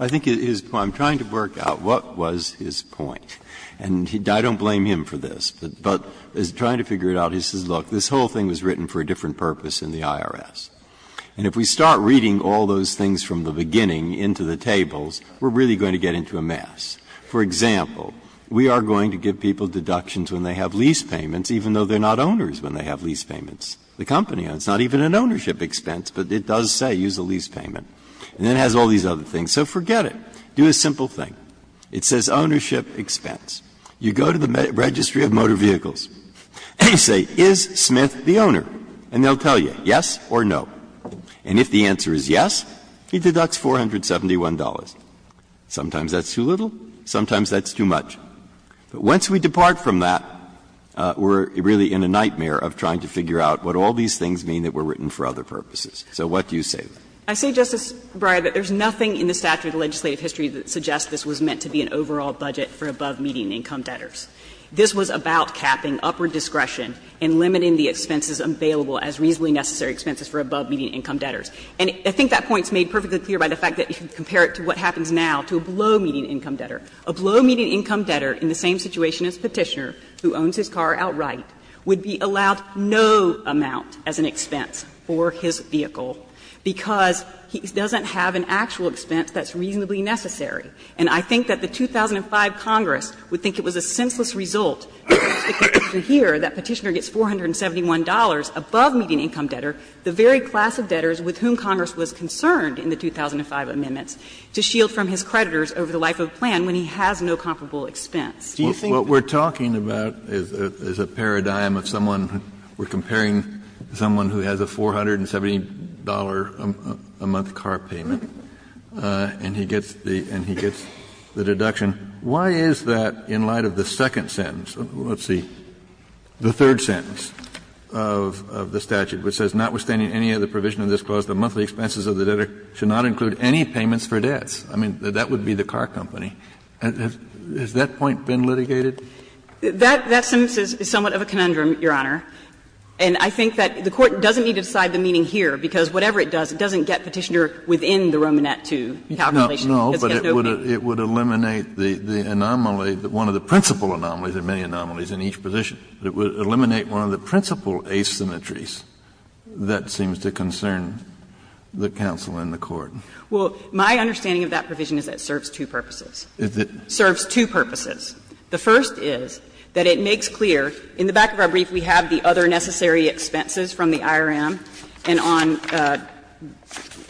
I think his point, I'm trying to work out what was his point, and I don't blame him for this, but as he's trying to figure it out, he says, look, this whole thing was written for a different purpose in the IRS. And if we start reading all those things from the beginning into the tables, we're really going to get into a mess. For example, we are going to give people deductions when they have lease payments, even though they're not owners when they have lease payments. The company owns. It's not even an ownership expense, but it does say, use a lease payment, and then it has all these other things. So forget it. Do a simple thing. It says ownership expense. You go to the Registry of Motor Vehicles and you say, is Smith the owner? And they'll tell you yes or no. And if the answer is yes, he deducts $471. Sometimes that's too little, sometimes that's too much. But once we depart from that, we're really in a nightmare of trying to figure out what all these things mean that were written for other purposes. So what do you say? I say, Justice Breyer, that there's nothing in the statute of legislative history that suggests this was meant to be an overall budget for above-median income debtors. This was about capping upward discretion and limiting the expenses available as reasonably necessary expenses for above-median income debtors. And I think that point is made perfectly clear by the fact that you can compare it to what happens now to a below-median income debtor. A below-median income debtor in the same situation as Petitioner, who owns his car outright, would be allowed no amount as an expense for his vehicle because he doesn't have an actual expense that's reasonably necessary. And I think that the 2005 Congress would think it was a senseless result to hear that Petitioner gets $471 above-median income debtor, the very class of debtors with whom Congress was concerned in the 2005 amendments, to shield from his creditors over the life of a plan when he has no comparable expense. Kennedy, what we're talking about is a paradigm of someone who we're comparing someone who has a $470-a-month car payment, and he gets the deduction. Why is that in light of the second sentence, let's see, the third sentence of the of the debtor should not include any payments for debts? I mean, that would be the car company. Has that point been litigated? That sentence is somewhat of a conundrum, Your Honor. And I think that the Court doesn't need to decide the meaning here, because whatever it does, it doesn't get Petitioner within the Romanette II calculation. It's got no meaning. No, but it would eliminate the anomaly, one of the principal anomalies, there are many anomalies in each position, but it would eliminate one of the principal asymmetries that seems to concern the counsel in the court. Well, my understanding of that provision is that it serves two purposes. It serves two purposes. The first is that it makes clear, in the back of our brief we have the other necessary expenses from the IRM, and on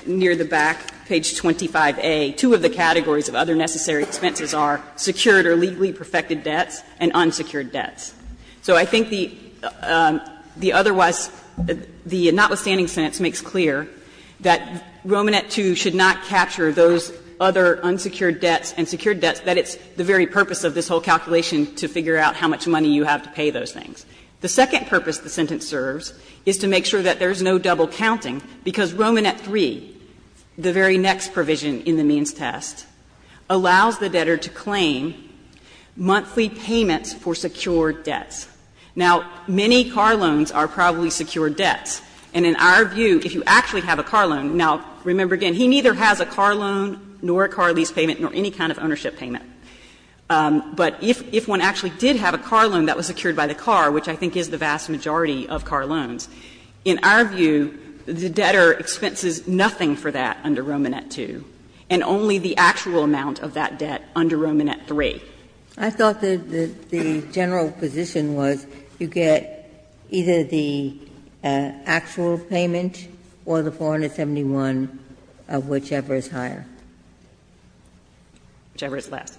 near the back, page 25a, two of the categories of other necessary expenses are secured or legally perfected debts and unsecured debts. So I think the otherwise, the notwithstanding sentence makes clear that Romanette II should not capture those other unsecured debts and secured debts, that it's the very purpose of this whole calculation to figure out how much money you have to pay those things. The second purpose the sentence serves is to make sure that there is no double counting, because Romanette III, the very next provision in the means test, allows the debtor to claim monthly payments for secured debts. Now, many car loans are probably secured debts, and in our view, if you actually have a car loan, now, remember again, he neither has a car loan nor a car lease payment nor any kind of ownership payment. But if one actually did have a car loan that was secured by the car, which I think is the vast majority of car loans, in our view, the debtor expenses nothing for that under Romanette II, and only the actual amount of that debt under Romanette III. Ginsburg, I thought that the general position was you get either the actual payment or the 471 of whichever is higher. Whichever is less.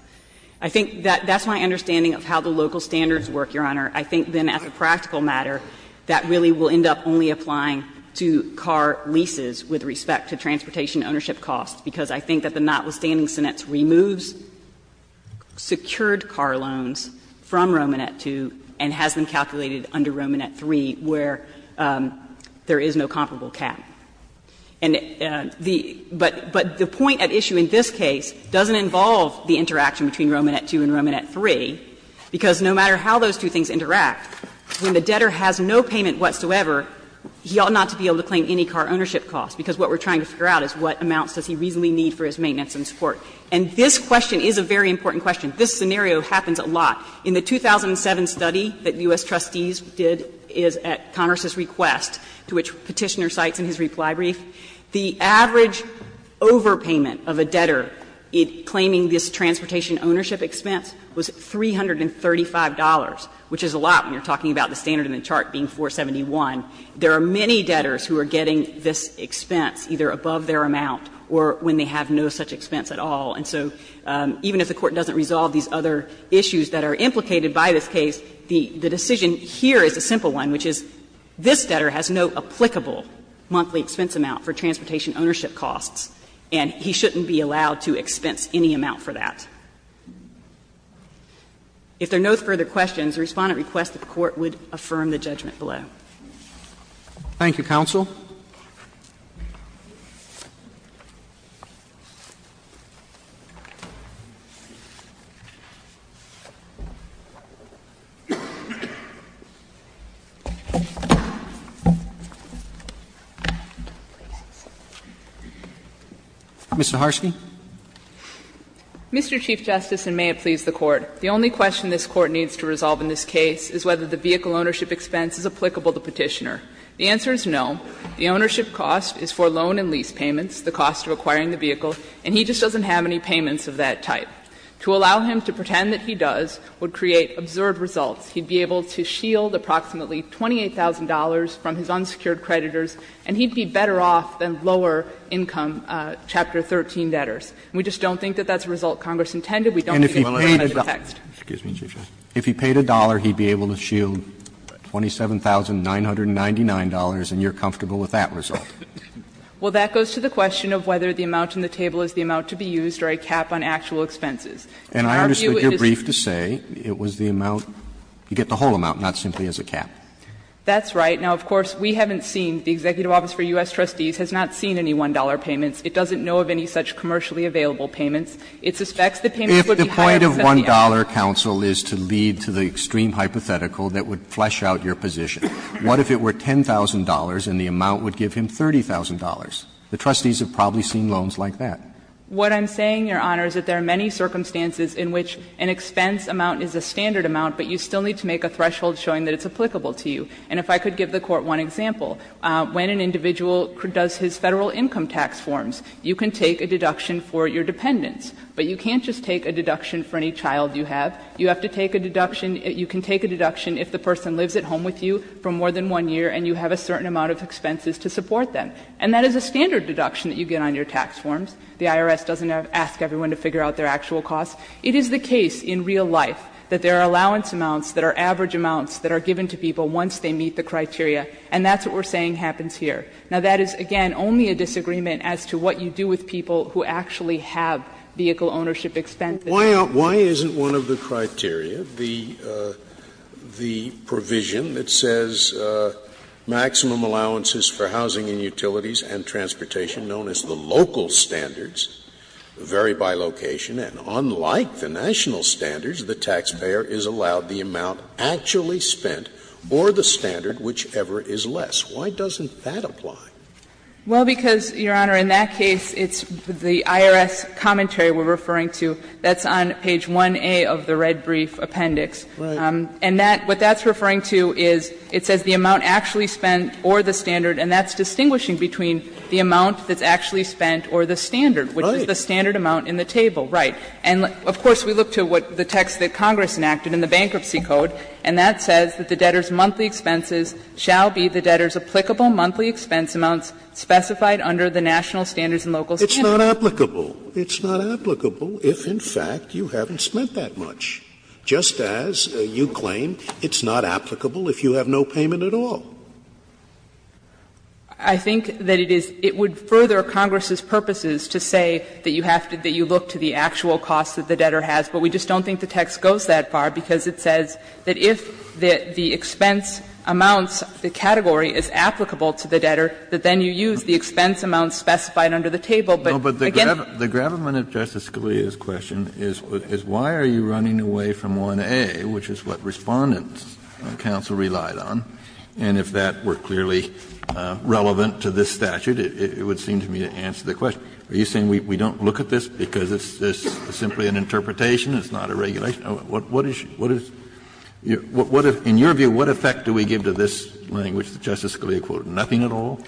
I think that's my understanding of how the local standards work, Your Honor. I think then as a practical matter, that really will end up only applying to car leases with respect to transportation ownership costs, because I think that the notwithstanding senates removes secured car loans from Romanette II and has them calculated under Romanette III, where there is no comparable cap. And the point at issue in this case doesn't involve the interaction between Romanette II and Romanette III, because no matter how those two things interact, when the debtor has no payment whatsoever, he ought not to be able to claim any car ownership costs, because what we're trying to figure out is what amounts does he reasonably need for his maintenance and support. And this question is a very important question. This scenario happens a lot. In the 2007 study that U.S. trustees did at Congress's request, to which Petitioner cites in his reply brief, the average overpayment of a debtor claiming this transportation ownership expense was $335, which is a lot when you're talking about the standard in the chart being $471. There are many debtors who are getting this expense either above their amount or when they have no such expense at all. And so even if the Court doesn't resolve these other issues that are implicated by this case, the decision here is a simple one, which is this debtor has no applicable monthly expense amount for transportation ownership costs, and he shouldn't be allowed to expense any amount for that. If there are no further questions, the Respondent requests that the Court would confirm the judgment below. Thank you, counsel. Ms. Zaharsky. Mr. Chief Justice, and may it please the Court, the only question this Court needs to resolve in this case is whether the vehicle ownership expense is applicable to Petitioner. The answer is no. The ownership cost is for loan and lease payments, the cost of acquiring the vehicle, and he just doesn't have any payments of that type. To allow him to pretend that he does would create absurd results. He'd be able to shield approximately $28,000 from his unsecured creditors, and he'd be better off than lower income Chapter 13 debtors. We just don't think that that's a result Congress intended. We don't think it will have any effect. If he paid $1, he'd be able to shield $27,999, and you're comfortable with that result. Well, that goes to the question of whether the amount on the table is the amount to be used or a cap on actual expenses. And I understand your brief to say it was the amount, you get the whole amount, not simply as a cap. That's right. Now, of course, we haven't seen, the Executive Office for U.S. Trustees has not seen any $1 payments. It doesn't know of any such commercially available payments. It suspects that payments would be higher than $1. $1 counsel is to lead to the extreme hypothetical that would flesh out your position. What if it were $10,000 and the amount would give him $30,000? The trustees have probably seen loans like that. What I'm saying, Your Honor, is that there are many circumstances in which an expense amount is a standard amount, but you still need to make a threshold showing that it's applicable to you. And if I could give the Court one example, when an individual does his Federal income tax forms, you can take a deduction for your dependents, but you can't just take a deduction for any child you have. You have to take a deduction, you can take a deduction if the person lives at home with you for more than one year and you have a certain amount of expenses to support them. And that is a standard deduction that you get on your tax forms. The IRS doesn't ask everyone to figure out their actual costs. It is the case in real life that there are allowance amounts that are average amounts that are given to people once they meet the criteria, and that's what we're saying happens here. Now, that is, again, only a disagreement as to what you do with people who actually have vehicle ownership expenses. Scalia Why isn't one of the criteria, the provision that says maximum allowances for housing and utilities and transportation known as the local standards vary by location, and unlike the national standards, the taxpayer is allowed the amount actually spent or the standard, whichever is less. Why doesn't that apply? Saharsky Well, because, Your Honor, in that case, it's the IRS commentary we're referring to that's on page 1A of the red brief appendix. And that what that's referring to is it says the amount actually spent or the standard, and that's distinguishing between the amount that's actually spent or the standard, which is the standard amount in the table. Right. And of course, we look to what the text that Congress enacted in the Bankruptcy Code, and that says that the debtor's monthly expenses shall be the debtor's applicable monthly expense amounts specified under the national standards and local standards. Scalia It's not applicable. It's not applicable if, in fact, you haven't spent that much, just as you claim it's not applicable if you have no payment at all. Saharsky I think that it is — it would further Congress's purposes to say that you have to — that you look to the actual costs that the debtor has, but we just don't think the text goes that far because it says that if the expense amounts, the category is applicable to the debtor, that then you use the expense amounts specified under the table. But, again, that's not applicable. Kennedy The gravamen of Justice Scalia's question is why are you running away from 1A, which is what Respondent's counsel relied on, and if that were clearly relevant to this statute, it would seem to me to answer the question. Are you saying we don't look at this because it's simply an interpretation, it's not a regulation? What is — what is — in your view, what effect do we give to this language, Justice Scalia quoted, nothing at all?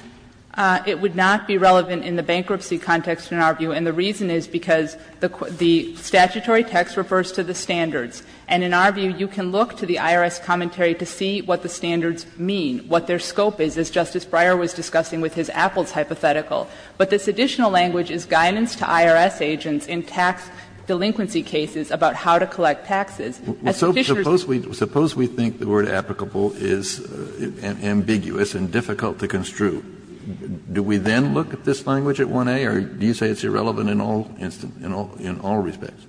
Saharsky It would not be relevant in the bankruptcy context in our view, and the reason is because the statutory text refers to the standards, and in our view, you can look to the IRS commentary to see what the standards mean, what their scope is, as Justice Breyer was discussing with his Apples hypothetical. But this additional language is guidance to IRS agents in tax delinquency cases about how to collect taxes. Kennedy Suppose we think the word applicable is ambiguous and difficult to construe. Do we then look at this language at 1A, or do you say it's irrelevant in all — in all respects?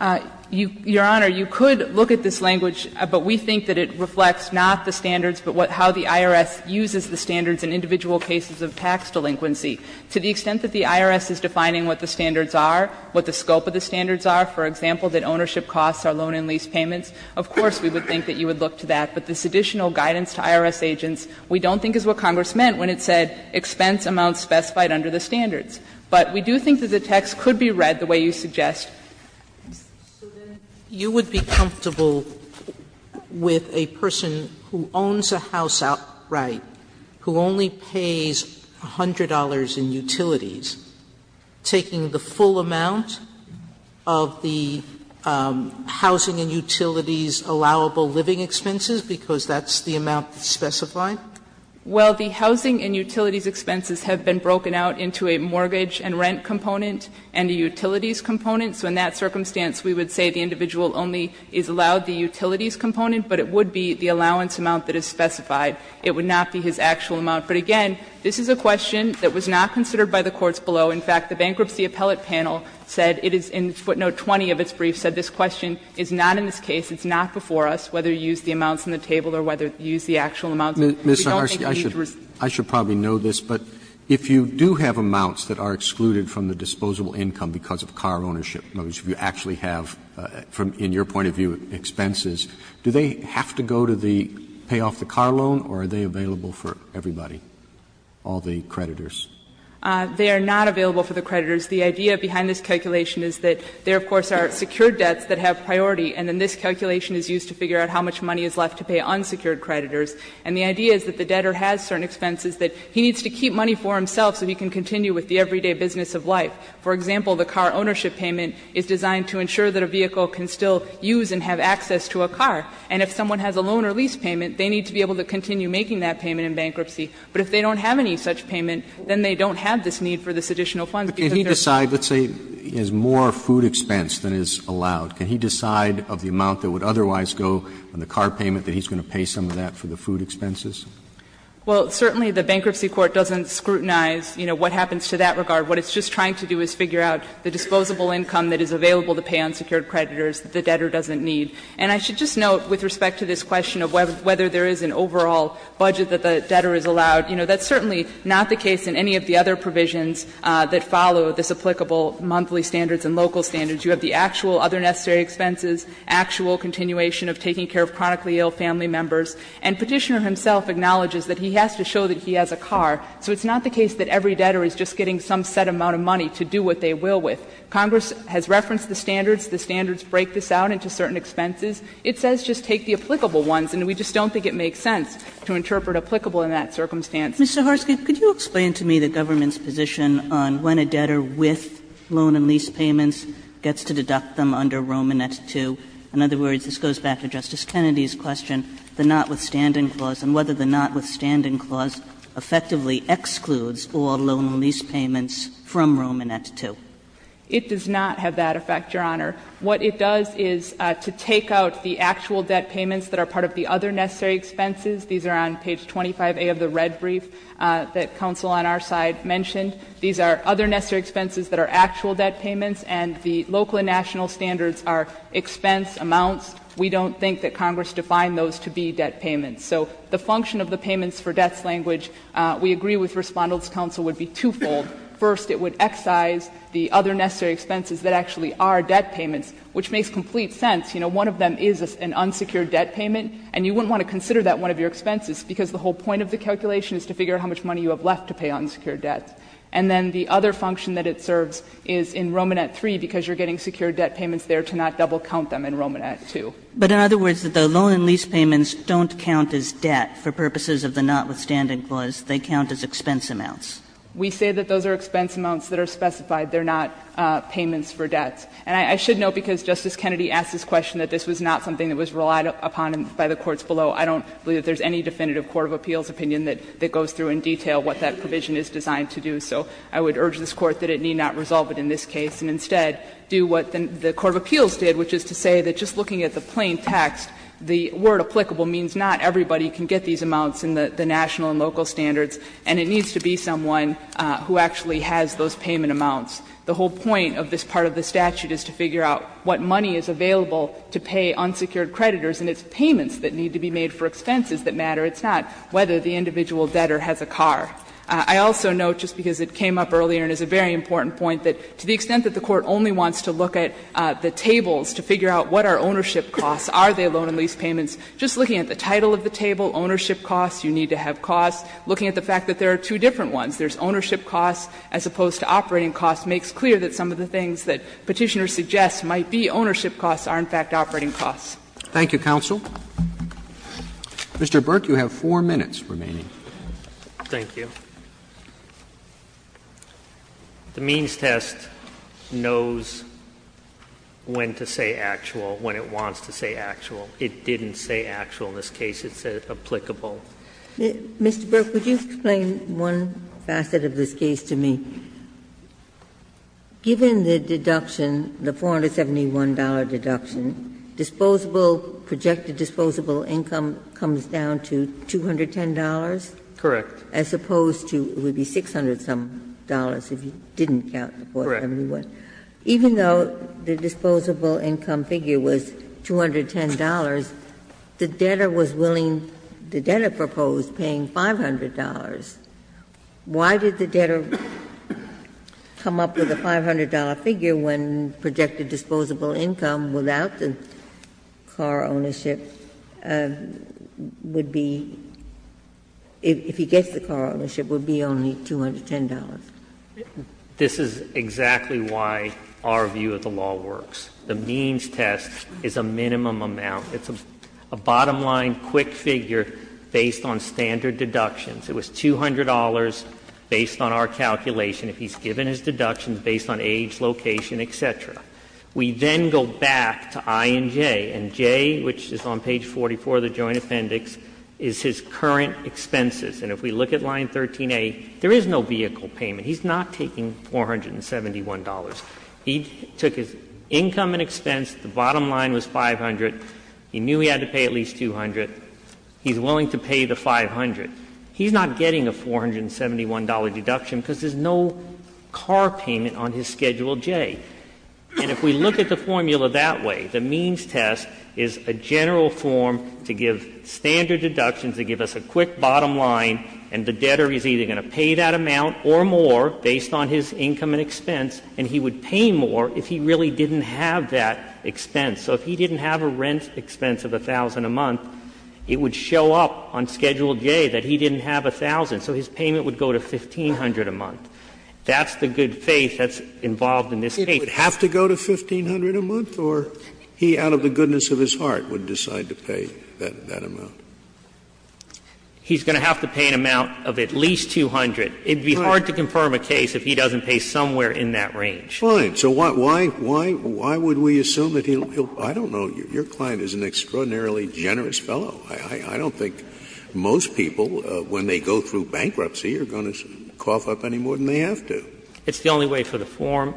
Saharsky Your Honor, you could look at this language, but we think that it reflects not the standards, but how the IRS uses the standards in individual cases of tax delinquency. To the extent that the IRS is defining what the standards are, what the scope of the standards are, for example, that ownership costs are loan and lease payments, of course we would think that you would look to that. But this additional guidance to IRS agents we don't think is what Congress meant when it said expense amounts specified under the standards. But we do think that the text could be read the way you suggest. Sotomayor So then you would be comfortable with a person who owns a house outright, who only pays $100 in utilities, taking the full amount of the housing and utilities allowable living expenses, because that's the amount specified? Saharsky Well, the housing and utilities expenses have been broken out into a mortgage and rent component and a utilities component. So in that circumstance, we would say the individual only is allowed the utilities component, but it would be the allowance amount that is specified. It would not be his actual amount. But again, this is a question that was not considered by the courts below. In fact, the Bankruptcy Appellate Panel said it is in footnote 20 of its brief, said this question is not in this case, it's not before us, whether you use the amounts on the table or whether you use the actual amounts. We don't think you need to respond. Roberts I should probably know this, but if you do have amounts that are excluded from the disposable income because of car ownership, if you actually have, in your point of view, expenses, do they have to go to the pay off the car loan or are they available for everybody? All the creditors. Saharsky They are not available for the creditors. The idea behind this calculation is that there, of course, are secured debts that have priority and then this calculation is used to figure out how much money is left to pay unsecured creditors. And the idea is that the debtor has certain expenses that he needs to keep money for himself so he can continue with the everyday business of life. For example, the car ownership payment is designed to ensure that a vehicle can still use and have access to a car. And if someone has a loan or lease payment, they need to be able to continue making that payment in bankruptcy. But if they don't have any such payment, then they don't have this need for this Because they're not. Roberts But can he decide, let's say he has more food expense than is allowed, can he decide of the amount that would otherwise go on the car payment that he's going to pay some of that for the food expenses? Saharsky Well, certainly the bankruptcy court doesn't scrutinize, you know, what happens to that regard. What it's just trying to do is figure out the disposable income that is available to pay unsecured creditors that the debtor doesn't need. And I should just note, with respect to this question of whether there is an overall budget that the debtor is allowed, you know, that's certainly not the case in any of the other provisions that follow this applicable monthly standards and local standards. You have the actual other necessary expenses, actual continuation of taking care of chronically ill family members. And Petitioner himself acknowledges that he has to show that he has a car. So it's not the case that every debtor is just getting some set amount of money to do what they will with. Congress has referenced the standards. The standards break this out into certain expenses. It says just take the applicable ones, and we just don't think it makes sense. To interpret applicable in that circumstance. Kagan Mr. Harsky, could you explain to me the government's position on when a debtor with loan and lease payments gets to deduct them under Romanet II? In other words, this goes back to Justice Kennedy's question, the notwithstanding clause, and whether the notwithstanding clause effectively excludes all loan and lease payments from Romanet II. Harsky It does not have that effect, Your Honor. What it does is to take out the actual debt payments that are part of the other necessary expenses. These are on page 25A of the red brief that counsel on our side mentioned. These are other necessary expenses that are actual debt payments, and the local and national standards are expense amounts. We don't think that Congress defined those to be debt payments. So the function of the payments for debts language, we agree with Respondent's counsel, would be twofold. First, it would excise the other necessary expenses that actually are debt payments, which makes complete sense. You know, one of them is an unsecured debt payment, and you wouldn't want to consider that one of your expenses, because the whole point of the calculation is to figure out how much money you have left to pay unsecured debts. And then the other function that it serves is in Romanet III, because you're getting secured debt payments there to not double count them in Romanet II. Kagan But in other words, the loan and lease payments don't count as debt for purposes of the notwithstanding clause. They count as expense amounts. Harsky We say that those are expense amounts that are specified. They are not payments for debts. And I should note, because Justice Kennedy asked this question, that this was not something that was relied upon by the courts below. I don't believe that there is any definitive court of appeals opinion that goes through in detail what that provision is designed to do. So I would urge this Court that it need not resolve it in this case, and instead do what the court of appeals did, which is to say that just looking at the plain text, the word applicable means not everybody can get these amounts in the national and local standards, and it needs to be someone who actually has those payment amounts. The whole point of this part of the statute is to figure out what money is available to pay unsecured creditors, and it's payments that need to be made for expenses that matter. It's not whether the individual debtor has a car. I also note, just because it came up earlier and is a very important point, that to the extent that the Court only wants to look at the tables to figure out what are ownership costs, are they loan and lease payments, just looking at the title of the table, ownership costs, you need to have costs, looking at the fact that there are two different ones, there's ownership costs as opposed to operating costs, makes clear that some of the things that Petitioner suggests might be ownership costs are, in fact, operating costs. Roberts Thank you, counsel. Mr. Burke, you have 4 minutes remaining. Thank you. The means test knows when to say actual, when it wants to say actual. It didn't say actual in this case, it said applicable. Ginsburg Mr. Burke, would you explain one facet of this case to me? Given the deduction, the $471 deduction, disposable, projected disposable income comes down to $210? Burke Correct. Ginsburg As opposed to, it would be $600-some if you didn't count the $471. Burke Correct. Ginsburg Even though the disposable income figure was $210, the debtor was willing, the debtor proposed paying $500. Why did the debtor come up with a $500 figure when projected disposable income without the car ownership would be, if he gets the car ownership, would be only $210? Burke This is exactly why our view of the law works. The means test is a minimum amount. It's a bottom line quick figure based on standard deductions. It was $200 based on our calculation. If he's given his deductions based on age, location, et cetera. We then go back to I and J, and J, which is on page 44 of the Joint Appendix, is his current expenses. And if we look at line 13a, there is no vehicle payment. He's not taking $471. He took his income and expense, the bottom line was $500. He knew he had to pay at least $200. He's willing to pay the $500. He's not getting a $471 deduction because there's no car payment on his Schedule J. And if we look at the formula that way, the means test is a general form to give standard deductions, to give us a quick bottom line, and the debtor is either going to pay that amount or more based on his income and expense, and he would pay more if he really didn't have that expense. So if he didn't have a rent expense of $1,000 a month, it would show up on Schedule J that he didn't have $1,000. So his payment would go to $1,500 a month. That's the good faith that's involved in this case. Scalia, It would have to go to $1,500 a month, or he, out of the goodness of his heart, would decide to pay that amount? He's going to have to pay an amount of at least $200. It would be hard to confirm a case if he doesn't pay somewhere in that range. Fine. So why, why, why would we assume that he'll, I don't know, your client is an extraordinarily generous fellow. I don't think most people, when they go through bankruptcy, are going to cough up any more than they have to. It's the only way for the form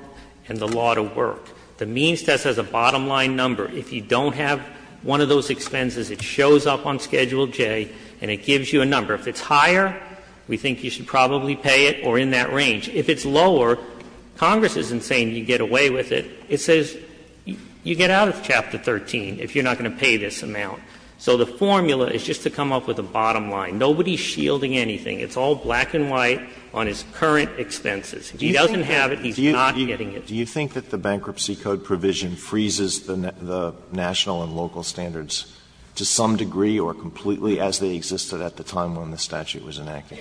and the law to work. The means test has a bottom line number. If you don't have one of those expenses, it shows up on Schedule J and it gives you a number. If it's higher, we think you should probably pay it, or in that range. If it's lower, Congress isn't saying you get away with it. It says you get out of Chapter 13 if you're not going to pay this amount. So the formula is just to come up with a bottom line. Nobody is shielding anything. It's all black and white on his current expenses. If he doesn't have it, he's not getting it. Alito, do you think that the Bankruptcy Code provision freezes the national and local standards to some degree or completely as they existed at the time when the statute was enacted?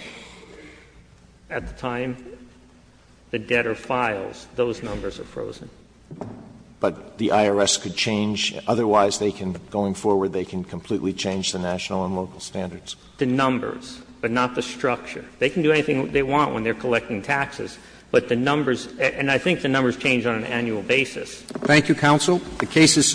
At the time the debtor files, those numbers are frozen. But the IRS could change? Otherwise, they can, going forward, they can completely change the national and local standards. The numbers, but not the structure. They can do anything they want when they're collecting taxes, but the numbers and I think the numbers change on an annual basis. Thank you, counsel. The case is submitted.